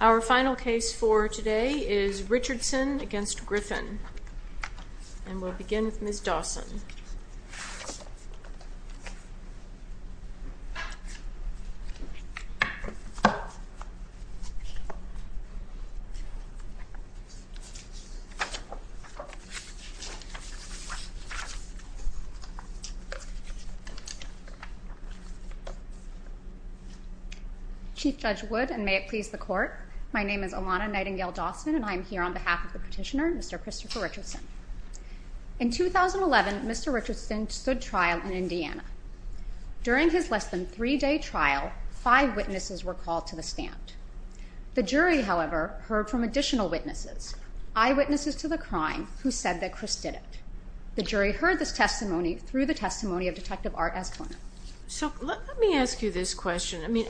Our final case for today is Richardson v. Griffin, and we'll begin with Ms. Dawson. Chief Judge Wood, and may it please the Court, my name is Ilana Nightingale-Dawson, and I am here on behalf of the petitioner, Mr. Christopher Richardson. In 2011, Mr. Richardson stood trial in Indiana. During his less than three-day trial, five witnesses were called to the stand. The jury, however, heard from additional witnesses, eyewitnesses to the crime, who said that Chris did it. The jury heard this testimony through the testimony of Detective Art Esplanade. Ms. Nightingale-Dawson So let me ask you this question. I mean,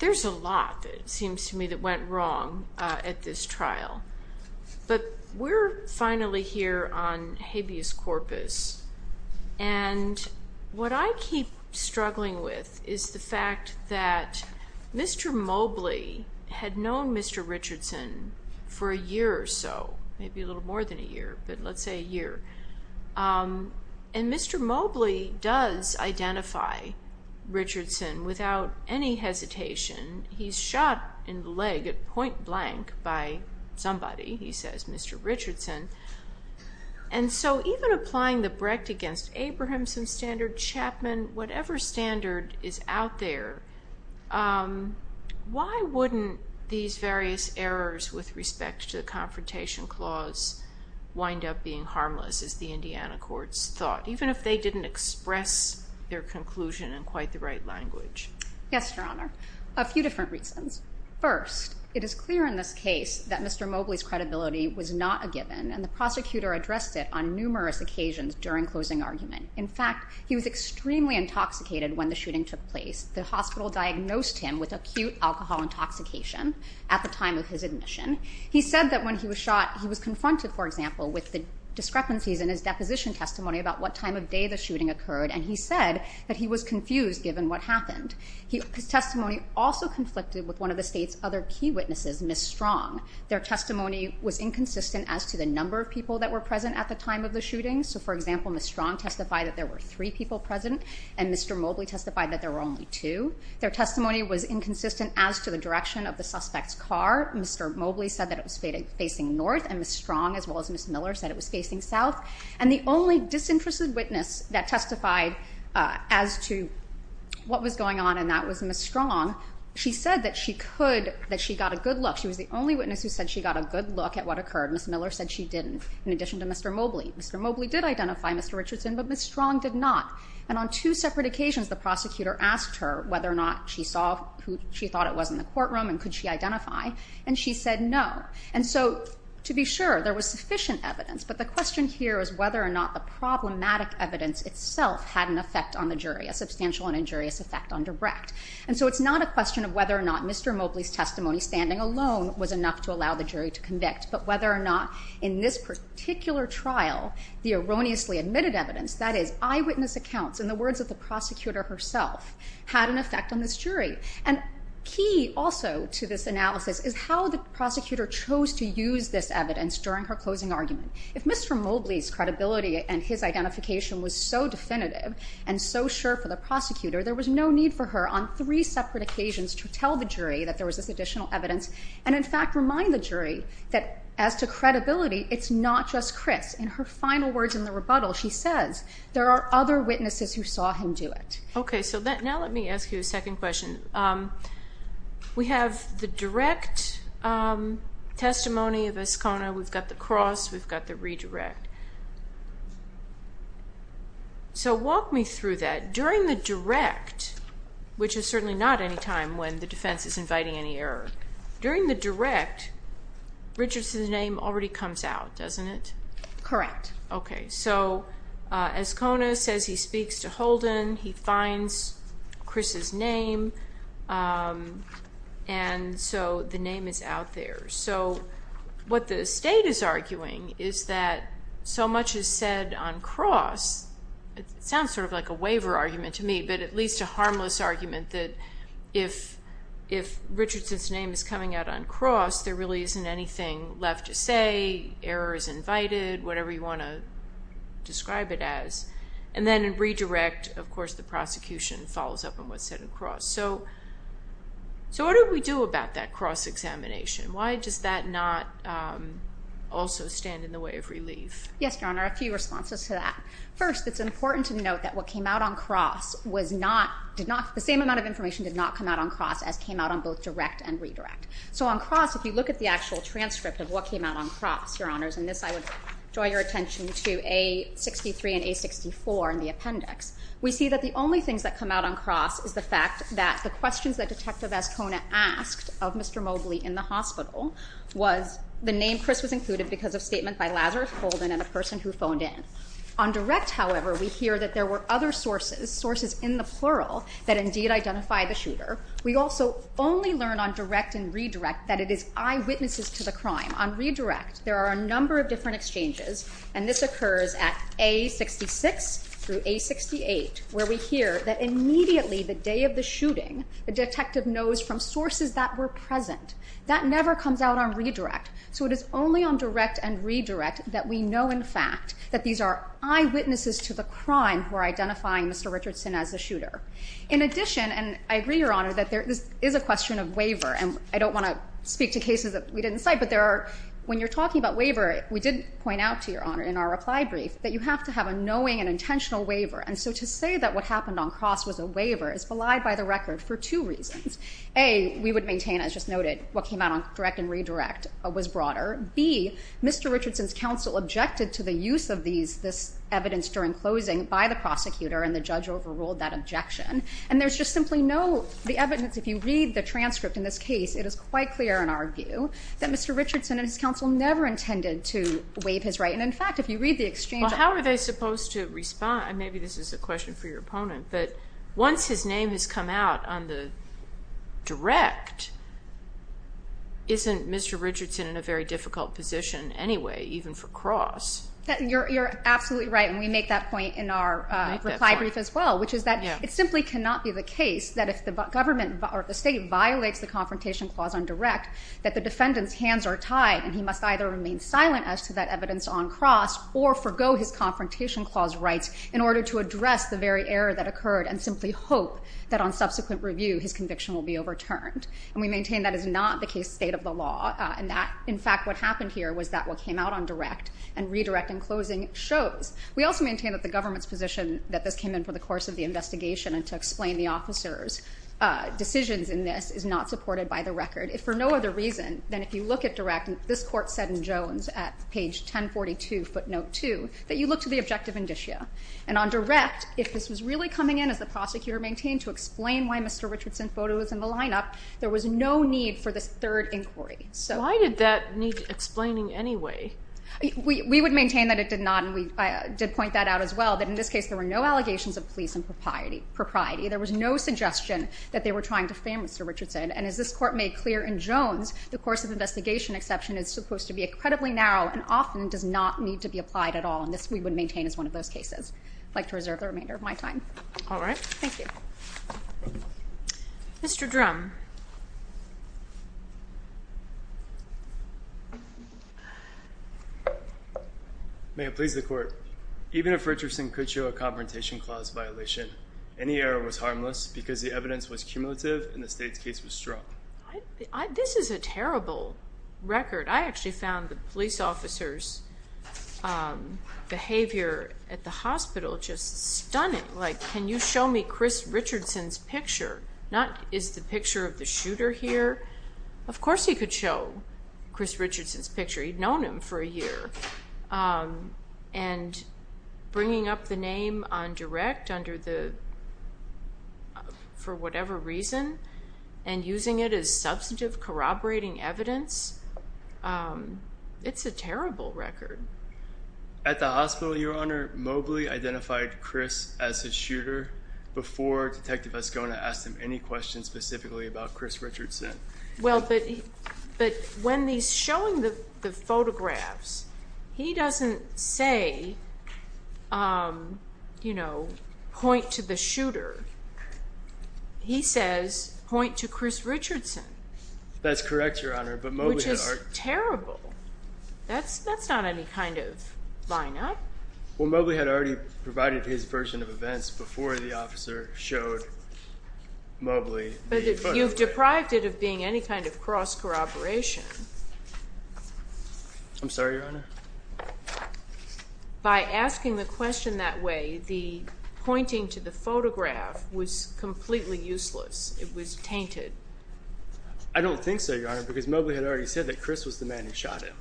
there's a lot, it seems to me, that went wrong at this trial, but we're finally here on habeas corpus, and what I keep struggling with is the fact that Mr. Mobley had known Mr. Richardson for a year or so, maybe a little more than a year, but let's say a year, and Mr. Mobley does identify Richardson without any hesitation. He's shot in the leg at point blank by somebody, he says, Mr. Richardson, and so even applying the Brecht against Abrahamson standard, Chapman, whatever standard is out there, why wouldn't these various errors with respect to the Confrontation Clause wind up being harmless, as the Indiana courts thought, even if they didn't express their conclusion in quite the right language? Ms. Nightingale-Dawson Yes, Your Honor, a few different reasons. First, it is clear in this case that Mr. Mobley's credibility was not a given, and the prosecutor addressed it on numerous occasions during closing argument. In fact, he was extremely intoxicated when the shooting took place. The hospital diagnosed him with acute alcohol intoxication at the time of his admission. He said that when he was shot, he was confronted, for example, with the discrepancies in his deposition testimony about what time of day the shooting occurred, and he said that he was confused given what happened. His testimony also conflicted with one of the state's other key witnesses, Ms. Strong. Their testimony was inconsistent as to the number of people that were present at the time of the shooting. So, for example, Ms. Strong testified that there were three people present, and Mr. Mobley testified that there were only two. Their testimony was inconsistent as to the direction of the suspect's car. Mr. Mobley said that it was facing north, and Ms. Strong, as well as Ms. Miller, said it was facing south. And the only disinterested witness that testified as to what was going on in that was Ms. Strong. She said that she could, that she got a good look. She was the only witness who said she got a good look at what occurred. Ms. Miller said she didn't, in addition to Mr. Mobley. Mr. Mobley did identify Mr. Richardson, but Ms. Strong did not. And on two separate occasions, the prosecutor asked her whether or not she saw who she thought it was in the courtroom, and could she identify, and she said no. And so, to be sure, there was sufficient evidence. But the question here is whether or not the problematic evidence itself had an effect on the jury, a substantial and injurious effect on direct. And so it's not a question of whether or not Mr. Mobley's testimony standing alone was enough to allow the jury to convict, but whether or not in this particular trial, the erroneously admitted evidence, that is, eyewitness accounts, in the words of the prosecutor herself, had an effect on this jury. And key also to this analysis is how the prosecutor chose to use this evidence during her closing argument. If Mr. Mobley's credibility and his identification was so definitive and so sure for the prosecutor, there was no need for her, on three separate occasions, to tell the jury that there was this additional evidence, and in fact, remind the jury that, as to credibility, it's not just Chris. In her final words in the rebuttal, she says, there are other witnesses who saw him do it. Okay, so now let me ask you a second question. We have the direct testimony of Escona. We've got the cross. We've got the redirect. So walk me through that. During the direct, which is certainly not any time when the defense is inviting any error, during the direct, Richardson's name already comes out, doesn't it? Correct. Okay. So Escona says he speaks to Holden, he finds Chris's name, and so the name is out there. So what the state is arguing is that so much is said on cross, it sounds sort of like a waiver argument to me, but at least a harmless argument that if Richardson's name is coming out on cross, there really isn't anything left to say, error is invited, whatever you want to describe it as. And then in redirect, of course, the prosecution follows up on what's said on cross. So what do we do about that cross examination? Why does that not also stand in the way of relief? Yes, Your Honor, a few responses to that. First, it's important to note that what came out on cross was not, did not, the same amount of information did not come out on cross as came out on both direct and redirect. So on cross, if you look at the actual transcript of what came out on cross, Your Honors, and in this I would draw your attention to A63 and A64 in the appendix, we see that the only things that come out on cross is the fact that the questions that Detective Ascona asked of Mr. Mobley in the hospital was the name Chris was included because of statement by Lazarus Holden and the person who phoned in. On direct, however, we hear that there were other sources, sources in the plural, that indeed identify the shooter. We also only learn on direct and redirect that it is eyewitnesses to the crime. On redirect, there are a number of different exchanges and this occurs at A66 through A68 where we hear that immediately the day of the shooting, the detective knows from sources that were present. That never comes out on redirect. So it is only on direct and redirect that we know in fact that these are eyewitnesses to the crime who are identifying Mr. Richardson as the shooter. In addition, and I agree, Your Honor, that there is a question of waiver and I don't want to speak to cases that we didn't cite, but there are, when you're talking about waiver, we did point out to Your Honor in our reply brief that you have to have a knowing and intentional waiver. And so to say that what happened on cross was a waiver is belied by the record for two reasons. A, we would maintain, as just noted, what came out on direct and redirect was broader. B, Mr. Richardson's counsel objected to the use of these, this evidence during closing by the prosecutor and the judge overruled that objection. And there's just simply no, the evidence, if you read the transcript in this case, it was quite clear in our view that Mr. Richardson and his counsel never intended to waive his right. And in fact, if you read the exchange. Well, how are they supposed to respond? And maybe this is a question for your opponent, but once his name has come out on the direct, isn't Mr. Richardson in a very difficult position anyway, even for cross? You're absolutely right. And we make that point in our reply brief as well, which is that it simply cannot be the case that if the government or the state violates the confrontation clause on direct, that the defendant's hands are tied and he must either remain silent as to that evidence on cross or forgo his confrontation clause rights in order to address the very error that occurred and simply hope that on subsequent review, his conviction will be overturned. And we maintain that is not the case state of the law. And that, in fact, what happened here was that what came out on direct and redirect in closing shows. We also maintain that the government's position that this came in for the course of the investigation and to explain the officer's decisions in this is not supported by the record. If for no other reason than if you look at direct, this court said in Jones at page 1042 footnote two, that you look to the objective indicia. And on direct, if this was really coming in as the prosecutor maintained to explain why Mr. Richardson's photo was in the lineup, there was no need for this third inquiry. So why did that need explaining anyway? We would maintain that it did not. And we did point that out as well, that in this case, there were no allegations of police and propriety. There was no suggestion that they were trying to frame Mr. Richardson. And as this court made clear in Jones, the course of investigation exception is supposed to be incredibly narrow and often does not need to be applied at all. And this we would maintain as one of those cases. I'd like to reserve the remainder of my time. All right. Thank you. Mr. Drum. May it please the court. Even if Richardson could show a confrontation clause violation, any error was harmless because the evidence was cumulative and the state's case was strong. This is a terrible record. I actually found the police officers' behavior at the hospital just stunning. Like, can you show me Chris Richardson's picture? Not is the picture of the shooter here? Of course he could show Chris Richardson's picture. He'd known him for a year. And bringing up the name on direct under the, for whatever reason, and using it as substantive corroborating evidence, it's a terrible record. At the hospital, Your Honor, Mobley identified Chris as the shooter before Detective Vascona asked him any questions specifically about Chris Richardson. Well, but when he's showing the photographs, he doesn't say, you know, point to the shooter. He says, point to Chris Richardson. That's correct, Your Honor. But Mobley had already- Which is terrible. That's not any kind of line up. Well, Mobley had already provided his version of events before the officer showed Mobley the photograph. But you've deprived it of being any kind of cross-corroboration. I'm sorry, Your Honor? By asking the question that way, the pointing to the photograph was completely useless. It was tainted. I don't think so, Your Honor, because Mobley had already said that Chris was the man who shot him.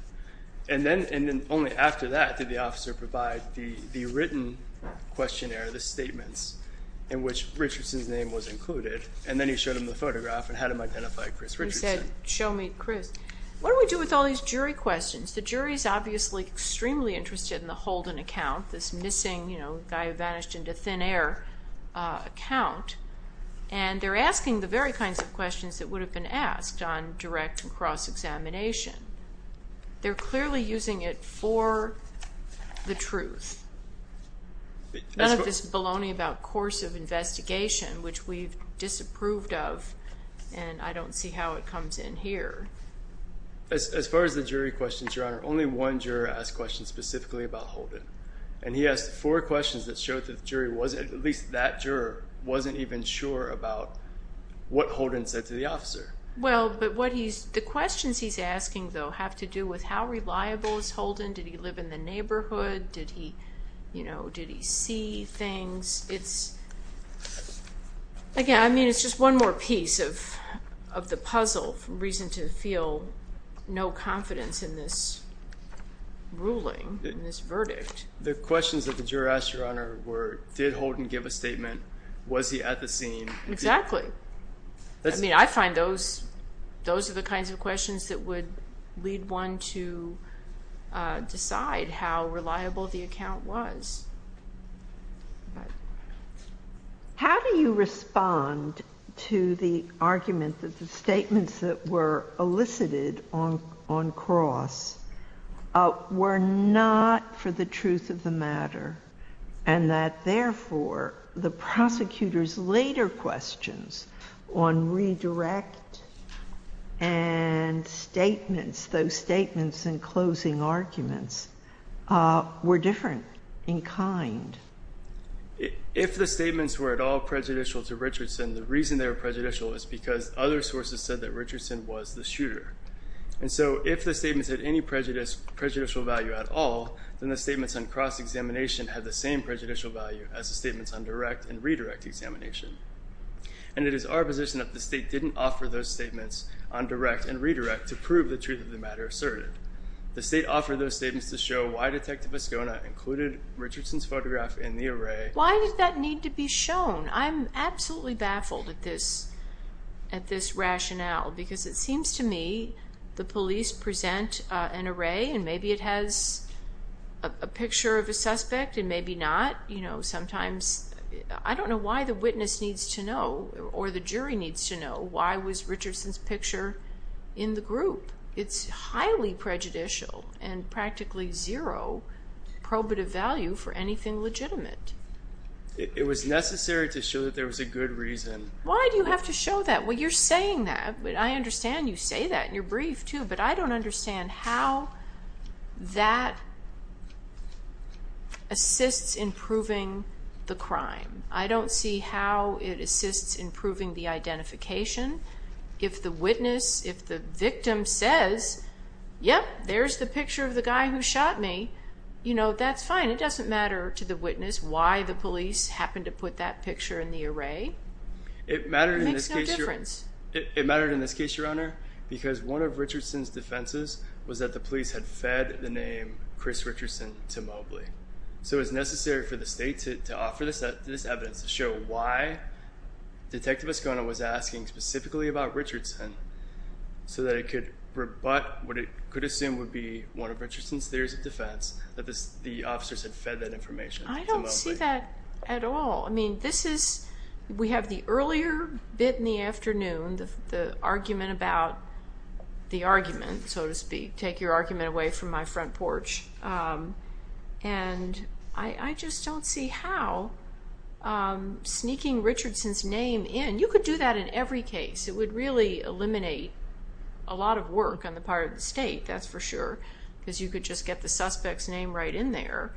And then, and then only after that did the officer provide the, the written questionnaire, the statements in which Richardson's name was included. And then he showed him the photograph and had him identify Chris Richardson. He said, show me Chris. What do we do with all these jury questions? The jury's obviously extremely interested in the Holden account, this missing, you know, guy who vanished into thin air account. And they're asking the very kinds of questions that would have been asked on direct and cross-examination. They're clearly using it for the truth, none of this baloney about course of investigation, which we've disapproved of. And I don't see how it comes in here. As far as the jury questions, Your Honor, only one juror asked questions specifically about Holden. And he asked four questions that showed that the jury wasn't, at least that juror, wasn't even sure about what Holden said to the officer. Well, but what he's, the questions he's asking, though, have to do with how reliable is Holden? Did he live in the neighborhood? Did he, you know, did he see things? It's, again, I mean, it's just one more piece of the puzzle, reason to feel no confidence in this ruling, in this verdict. The questions that the juror asked, Your Honor, were, did Holden give a statement? Was he at the scene? Exactly. I mean, I find those, those are the kinds of questions that would lead one to decide how reliable the account was. How do you respond to the argument that the statements that were elicited on cross were not for the truth of the matter, and that, therefore, the prosecutor's later questions on redirect and statements, those statements and closing arguments, were different in kind? If the statements were at all prejudicial to Richardson, the reason they were prejudicial is because other sources said that Richardson was the shooter. And so if the statements had any prejudicial value at all, then the statements on cross examination had the same prejudicial value as the statements on direct and redirect examination. And it is our position that the state didn't offer those statements on direct and redirect to prove the truth of the matter assertive. The state offered those statements to show why Detective Ascona included Richardson's photograph in the array. Why did that need to be shown? I'm absolutely baffled at this, at this rationale, because it seems to me the police present an array and maybe it has a picture of a suspect and maybe not, you know, sometimes I don't know why the witness needs to know or the jury needs to know why was Richardson's picture in the group. It's highly prejudicial and practically zero probative value for anything legitimate. It was necessary to show that there was a good reason. Why do you have to show that? Well, you're saying that, but I understand you say that in your brief, too, but I don't understand how that assists in proving the crime. I don't see how it assists in proving the identification. If the witness, if the victim says, yep, there's the picture of the guy who shot me, you know, that's fine. It doesn't matter to the witness why the police happened to put that picture in the array. It mattered in this case, Your Honor, because one of Richardson's defenses was that the police had fed the name Chris Richardson to Mobley. So it was necessary for the state to offer this evidence to show why Detective Escona was asking specifically about Richardson so that it could rebut what it could assume would be one of Richardson's theories of defense, that the officers had fed that information to Mobley. I don't see that at all. I mean, this is, we have the earlier bit in the afternoon, the argument about the argument, so to speak, take your argument away from my front porch. And I just don't see how sneaking Richardson's name in, you could do that in every case. It would really eliminate a lot of work on the part of the state, that's for sure, because you could just get the suspect's name right in there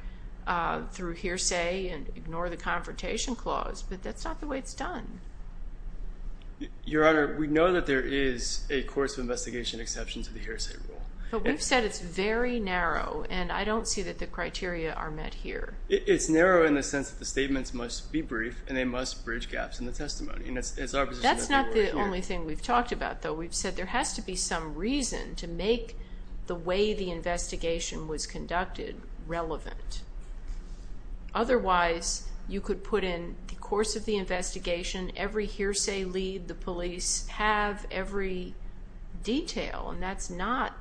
through hearsay and ignore the confrontation clause, but that's not the way it's done. Your Honor, we know that there is a course of investigation exception to the hearsay rule. But we've said it's very narrow and I don't see that the criteria are met here. It's narrow in the sense that the statements must be brief and they must bridge gaps in the testimony. That's not the only thing we've talked about, though. We've said there has to be some reason to make the way the investigation was conducted relevant. Otherwise, you could put in the course of the investigation, every hearsay lead, the police, have every detail, and that's not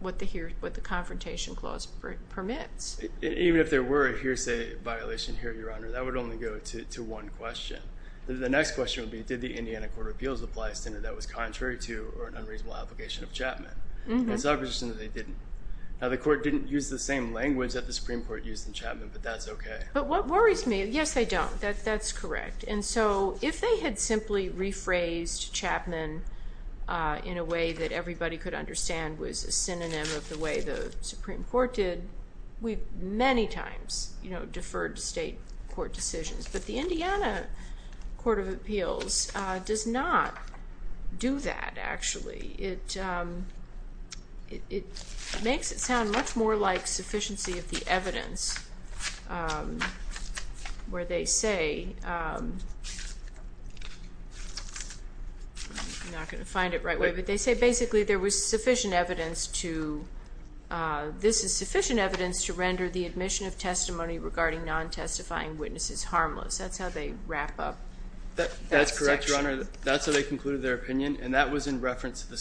what the confrontation clause permits. Even if there were a hearsay violation here, Your Honor, that would only go to one question. The next question would be, did the Indiana Court of Appeals apply a standard that was contrary to or an unreasonable application of Chapman? It's not a question that they didn't. The court didn't use the same language that the Supreme Court used in Chapman, but that's okay. But what worries me, yes, they don't. That's correct. And so if they had simply rephrased Chapman in a way that everybody could understand was a synonym of the way the Supreme Court did, we've many times deferred to state court decisions. But the Indiana Court of Appeals does not do that, actually. It makes it sound much more like sufficiency of the evidence, where they say, I'm not going to find it right away, but they say basically there was sufficient evidence to, this is sufficient evidence to render the admission of testimony regarding non-testifying witnesses harmless. That's how they wrap up that section. That's correct, Your Honor. That's how they concluded their opinion, and that was in reference to the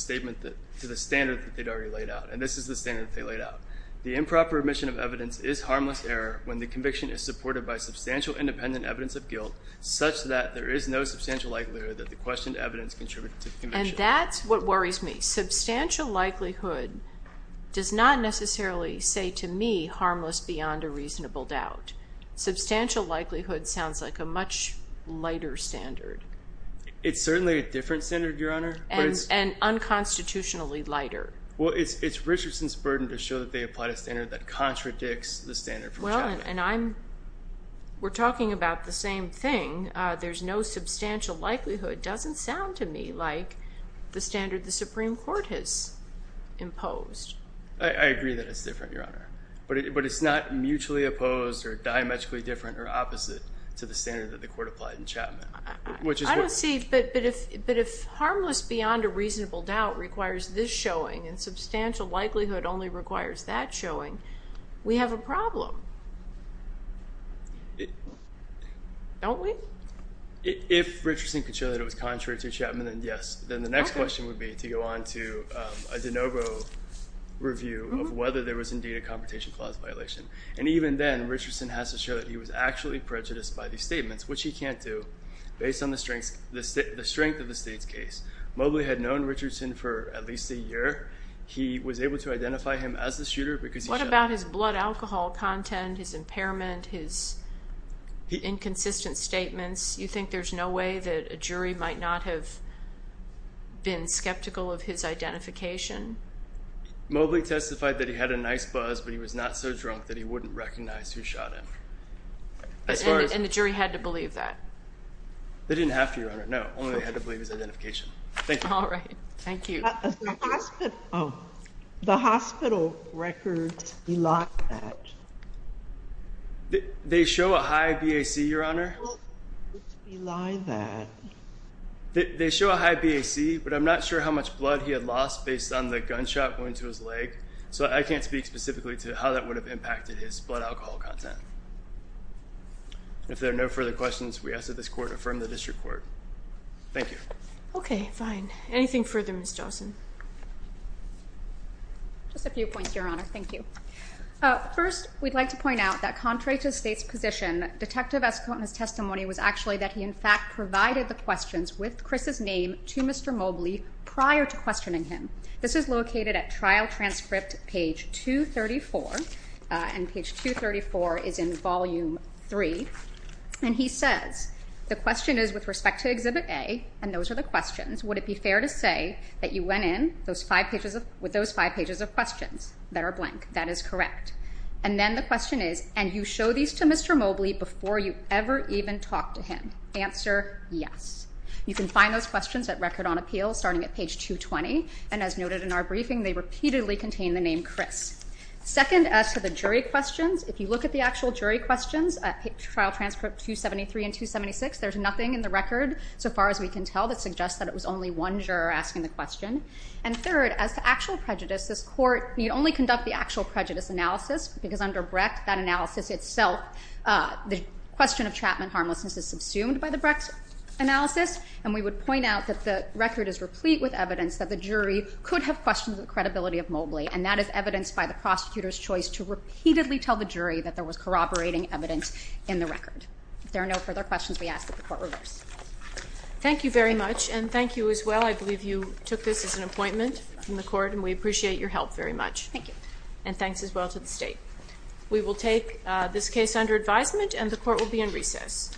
standard that they'd already laid out. And this is the standard that they laid out. The improper admission of evidence is harmless error when the conviction is supported by substantial independent evidence of guilt, such that there is no substantial likelihood that the questioned evidence contributed to the conviction. And that's what worries me. Substantial likelihood does not necessarily say to me harmless beyond a reasonable doubt. Substantial likelihood sounds like a much lighter standard. It's certainly a different standard, Your Honor. And unconstitutionally lighter. Well, it's Richardson's burden to show that they applied a standard that contradicts the standard from Chapman. Well, and I'm, we're talking about the same thing. There's no substantial likelihood doesn't sound to me like the standard the Supreme Court has imposed. I agree that it's different, Your Honor. But it's not mutually opposed or diametrically different or opposite to the standard that the Court applied in Chapman. I don't see, but if harmless beyond a reasonable doubt requires this showing, and substantial likelihood only requires that showing, we have a problem, don't we? If Richardson could show that it was contrary to Chapman, then yes. Then the next question would be to go on to a De Novo review of whether there was indeed a confrontation clause violation. And even then, Richardson has to show that he was actually prejudiced by these statements, which he can't do based on the strengths, the strength of the state's case. Mobley had known Richardson for at least a year. He was able to identify him as the shooter because he shot him. What about his blood alcohol content, his impairment, his inconsistent statements? You think there's no way that a jury might not have been skeptical of his identification? Mobley testified that he had a nice buzz, but he was not so drunk that he wouldn't recognize who shot him. And the jury had to believe that? They didn't have to, Your Honor. No. Only they had to believe his identification. Thank you. All right. Thank you. Oh. The hospital records deny that. They show a high BAC, Your Honor. Well, why deny that? They show a high BAC, but I'm not sure how much blood he had lost based on the gunshot going to his leg, so I can't speak specifically to how that would have impacted his blood alcohol content. If there are no further questions, we ask that this Court affirm the district court. Thank you. Okay. Fine. Anything further, Ms. Johnson? Just a few points, Your Honor. Thank you. First, we'd like to point out that contrary to the State's position, Detective Eskoton's testimony was actually that he, in fact, provided the questions with Chris's name to Mr. Mobley prior to questioning him. This is located at Trial Transcript, page 234, and page 234 is in Volume 3. And he says, the question is, with respect to Exhibit A, and those are the questions, would it be fair to say that you went in with those five pages of questions that are blank? That is correct. And then the question is, and you show these to Mr. Mobley before you ever even talked to him? Answer, yes. You can find those questions at Record on Appeal, starting at page 220. And as noted in our briefing, they repeatedly contain the name Chris. Second, as to the jury questions, if you look at the actual jury questions at Trial Transcript 273 and 276, there's nothing in the record, so far as we can tell, that suggests that it was only one juror asking the question. And third, as to actual prejudice, this Court need only conduct the actual prejudice analysis, because under Brecht, that analysis itself, the question of Chapman harmlessness is subsumed by the Brecht analysis. And we would point out that the record is replete with evidence that the jury could have questioned the credibility of Mobley. And that is evidenced by the prosecutor's choice to repeatedly tell the jury that there was corroborating evidence in the record. There are no further questions we ask that the Court reverse. Thank you very much. And thank you as well. I believe you took this as an appointment from the Court, and we appreciate your help very much. Thank you. And thanks as well to the State. We will take this case under advisement, and the Court will be in recess.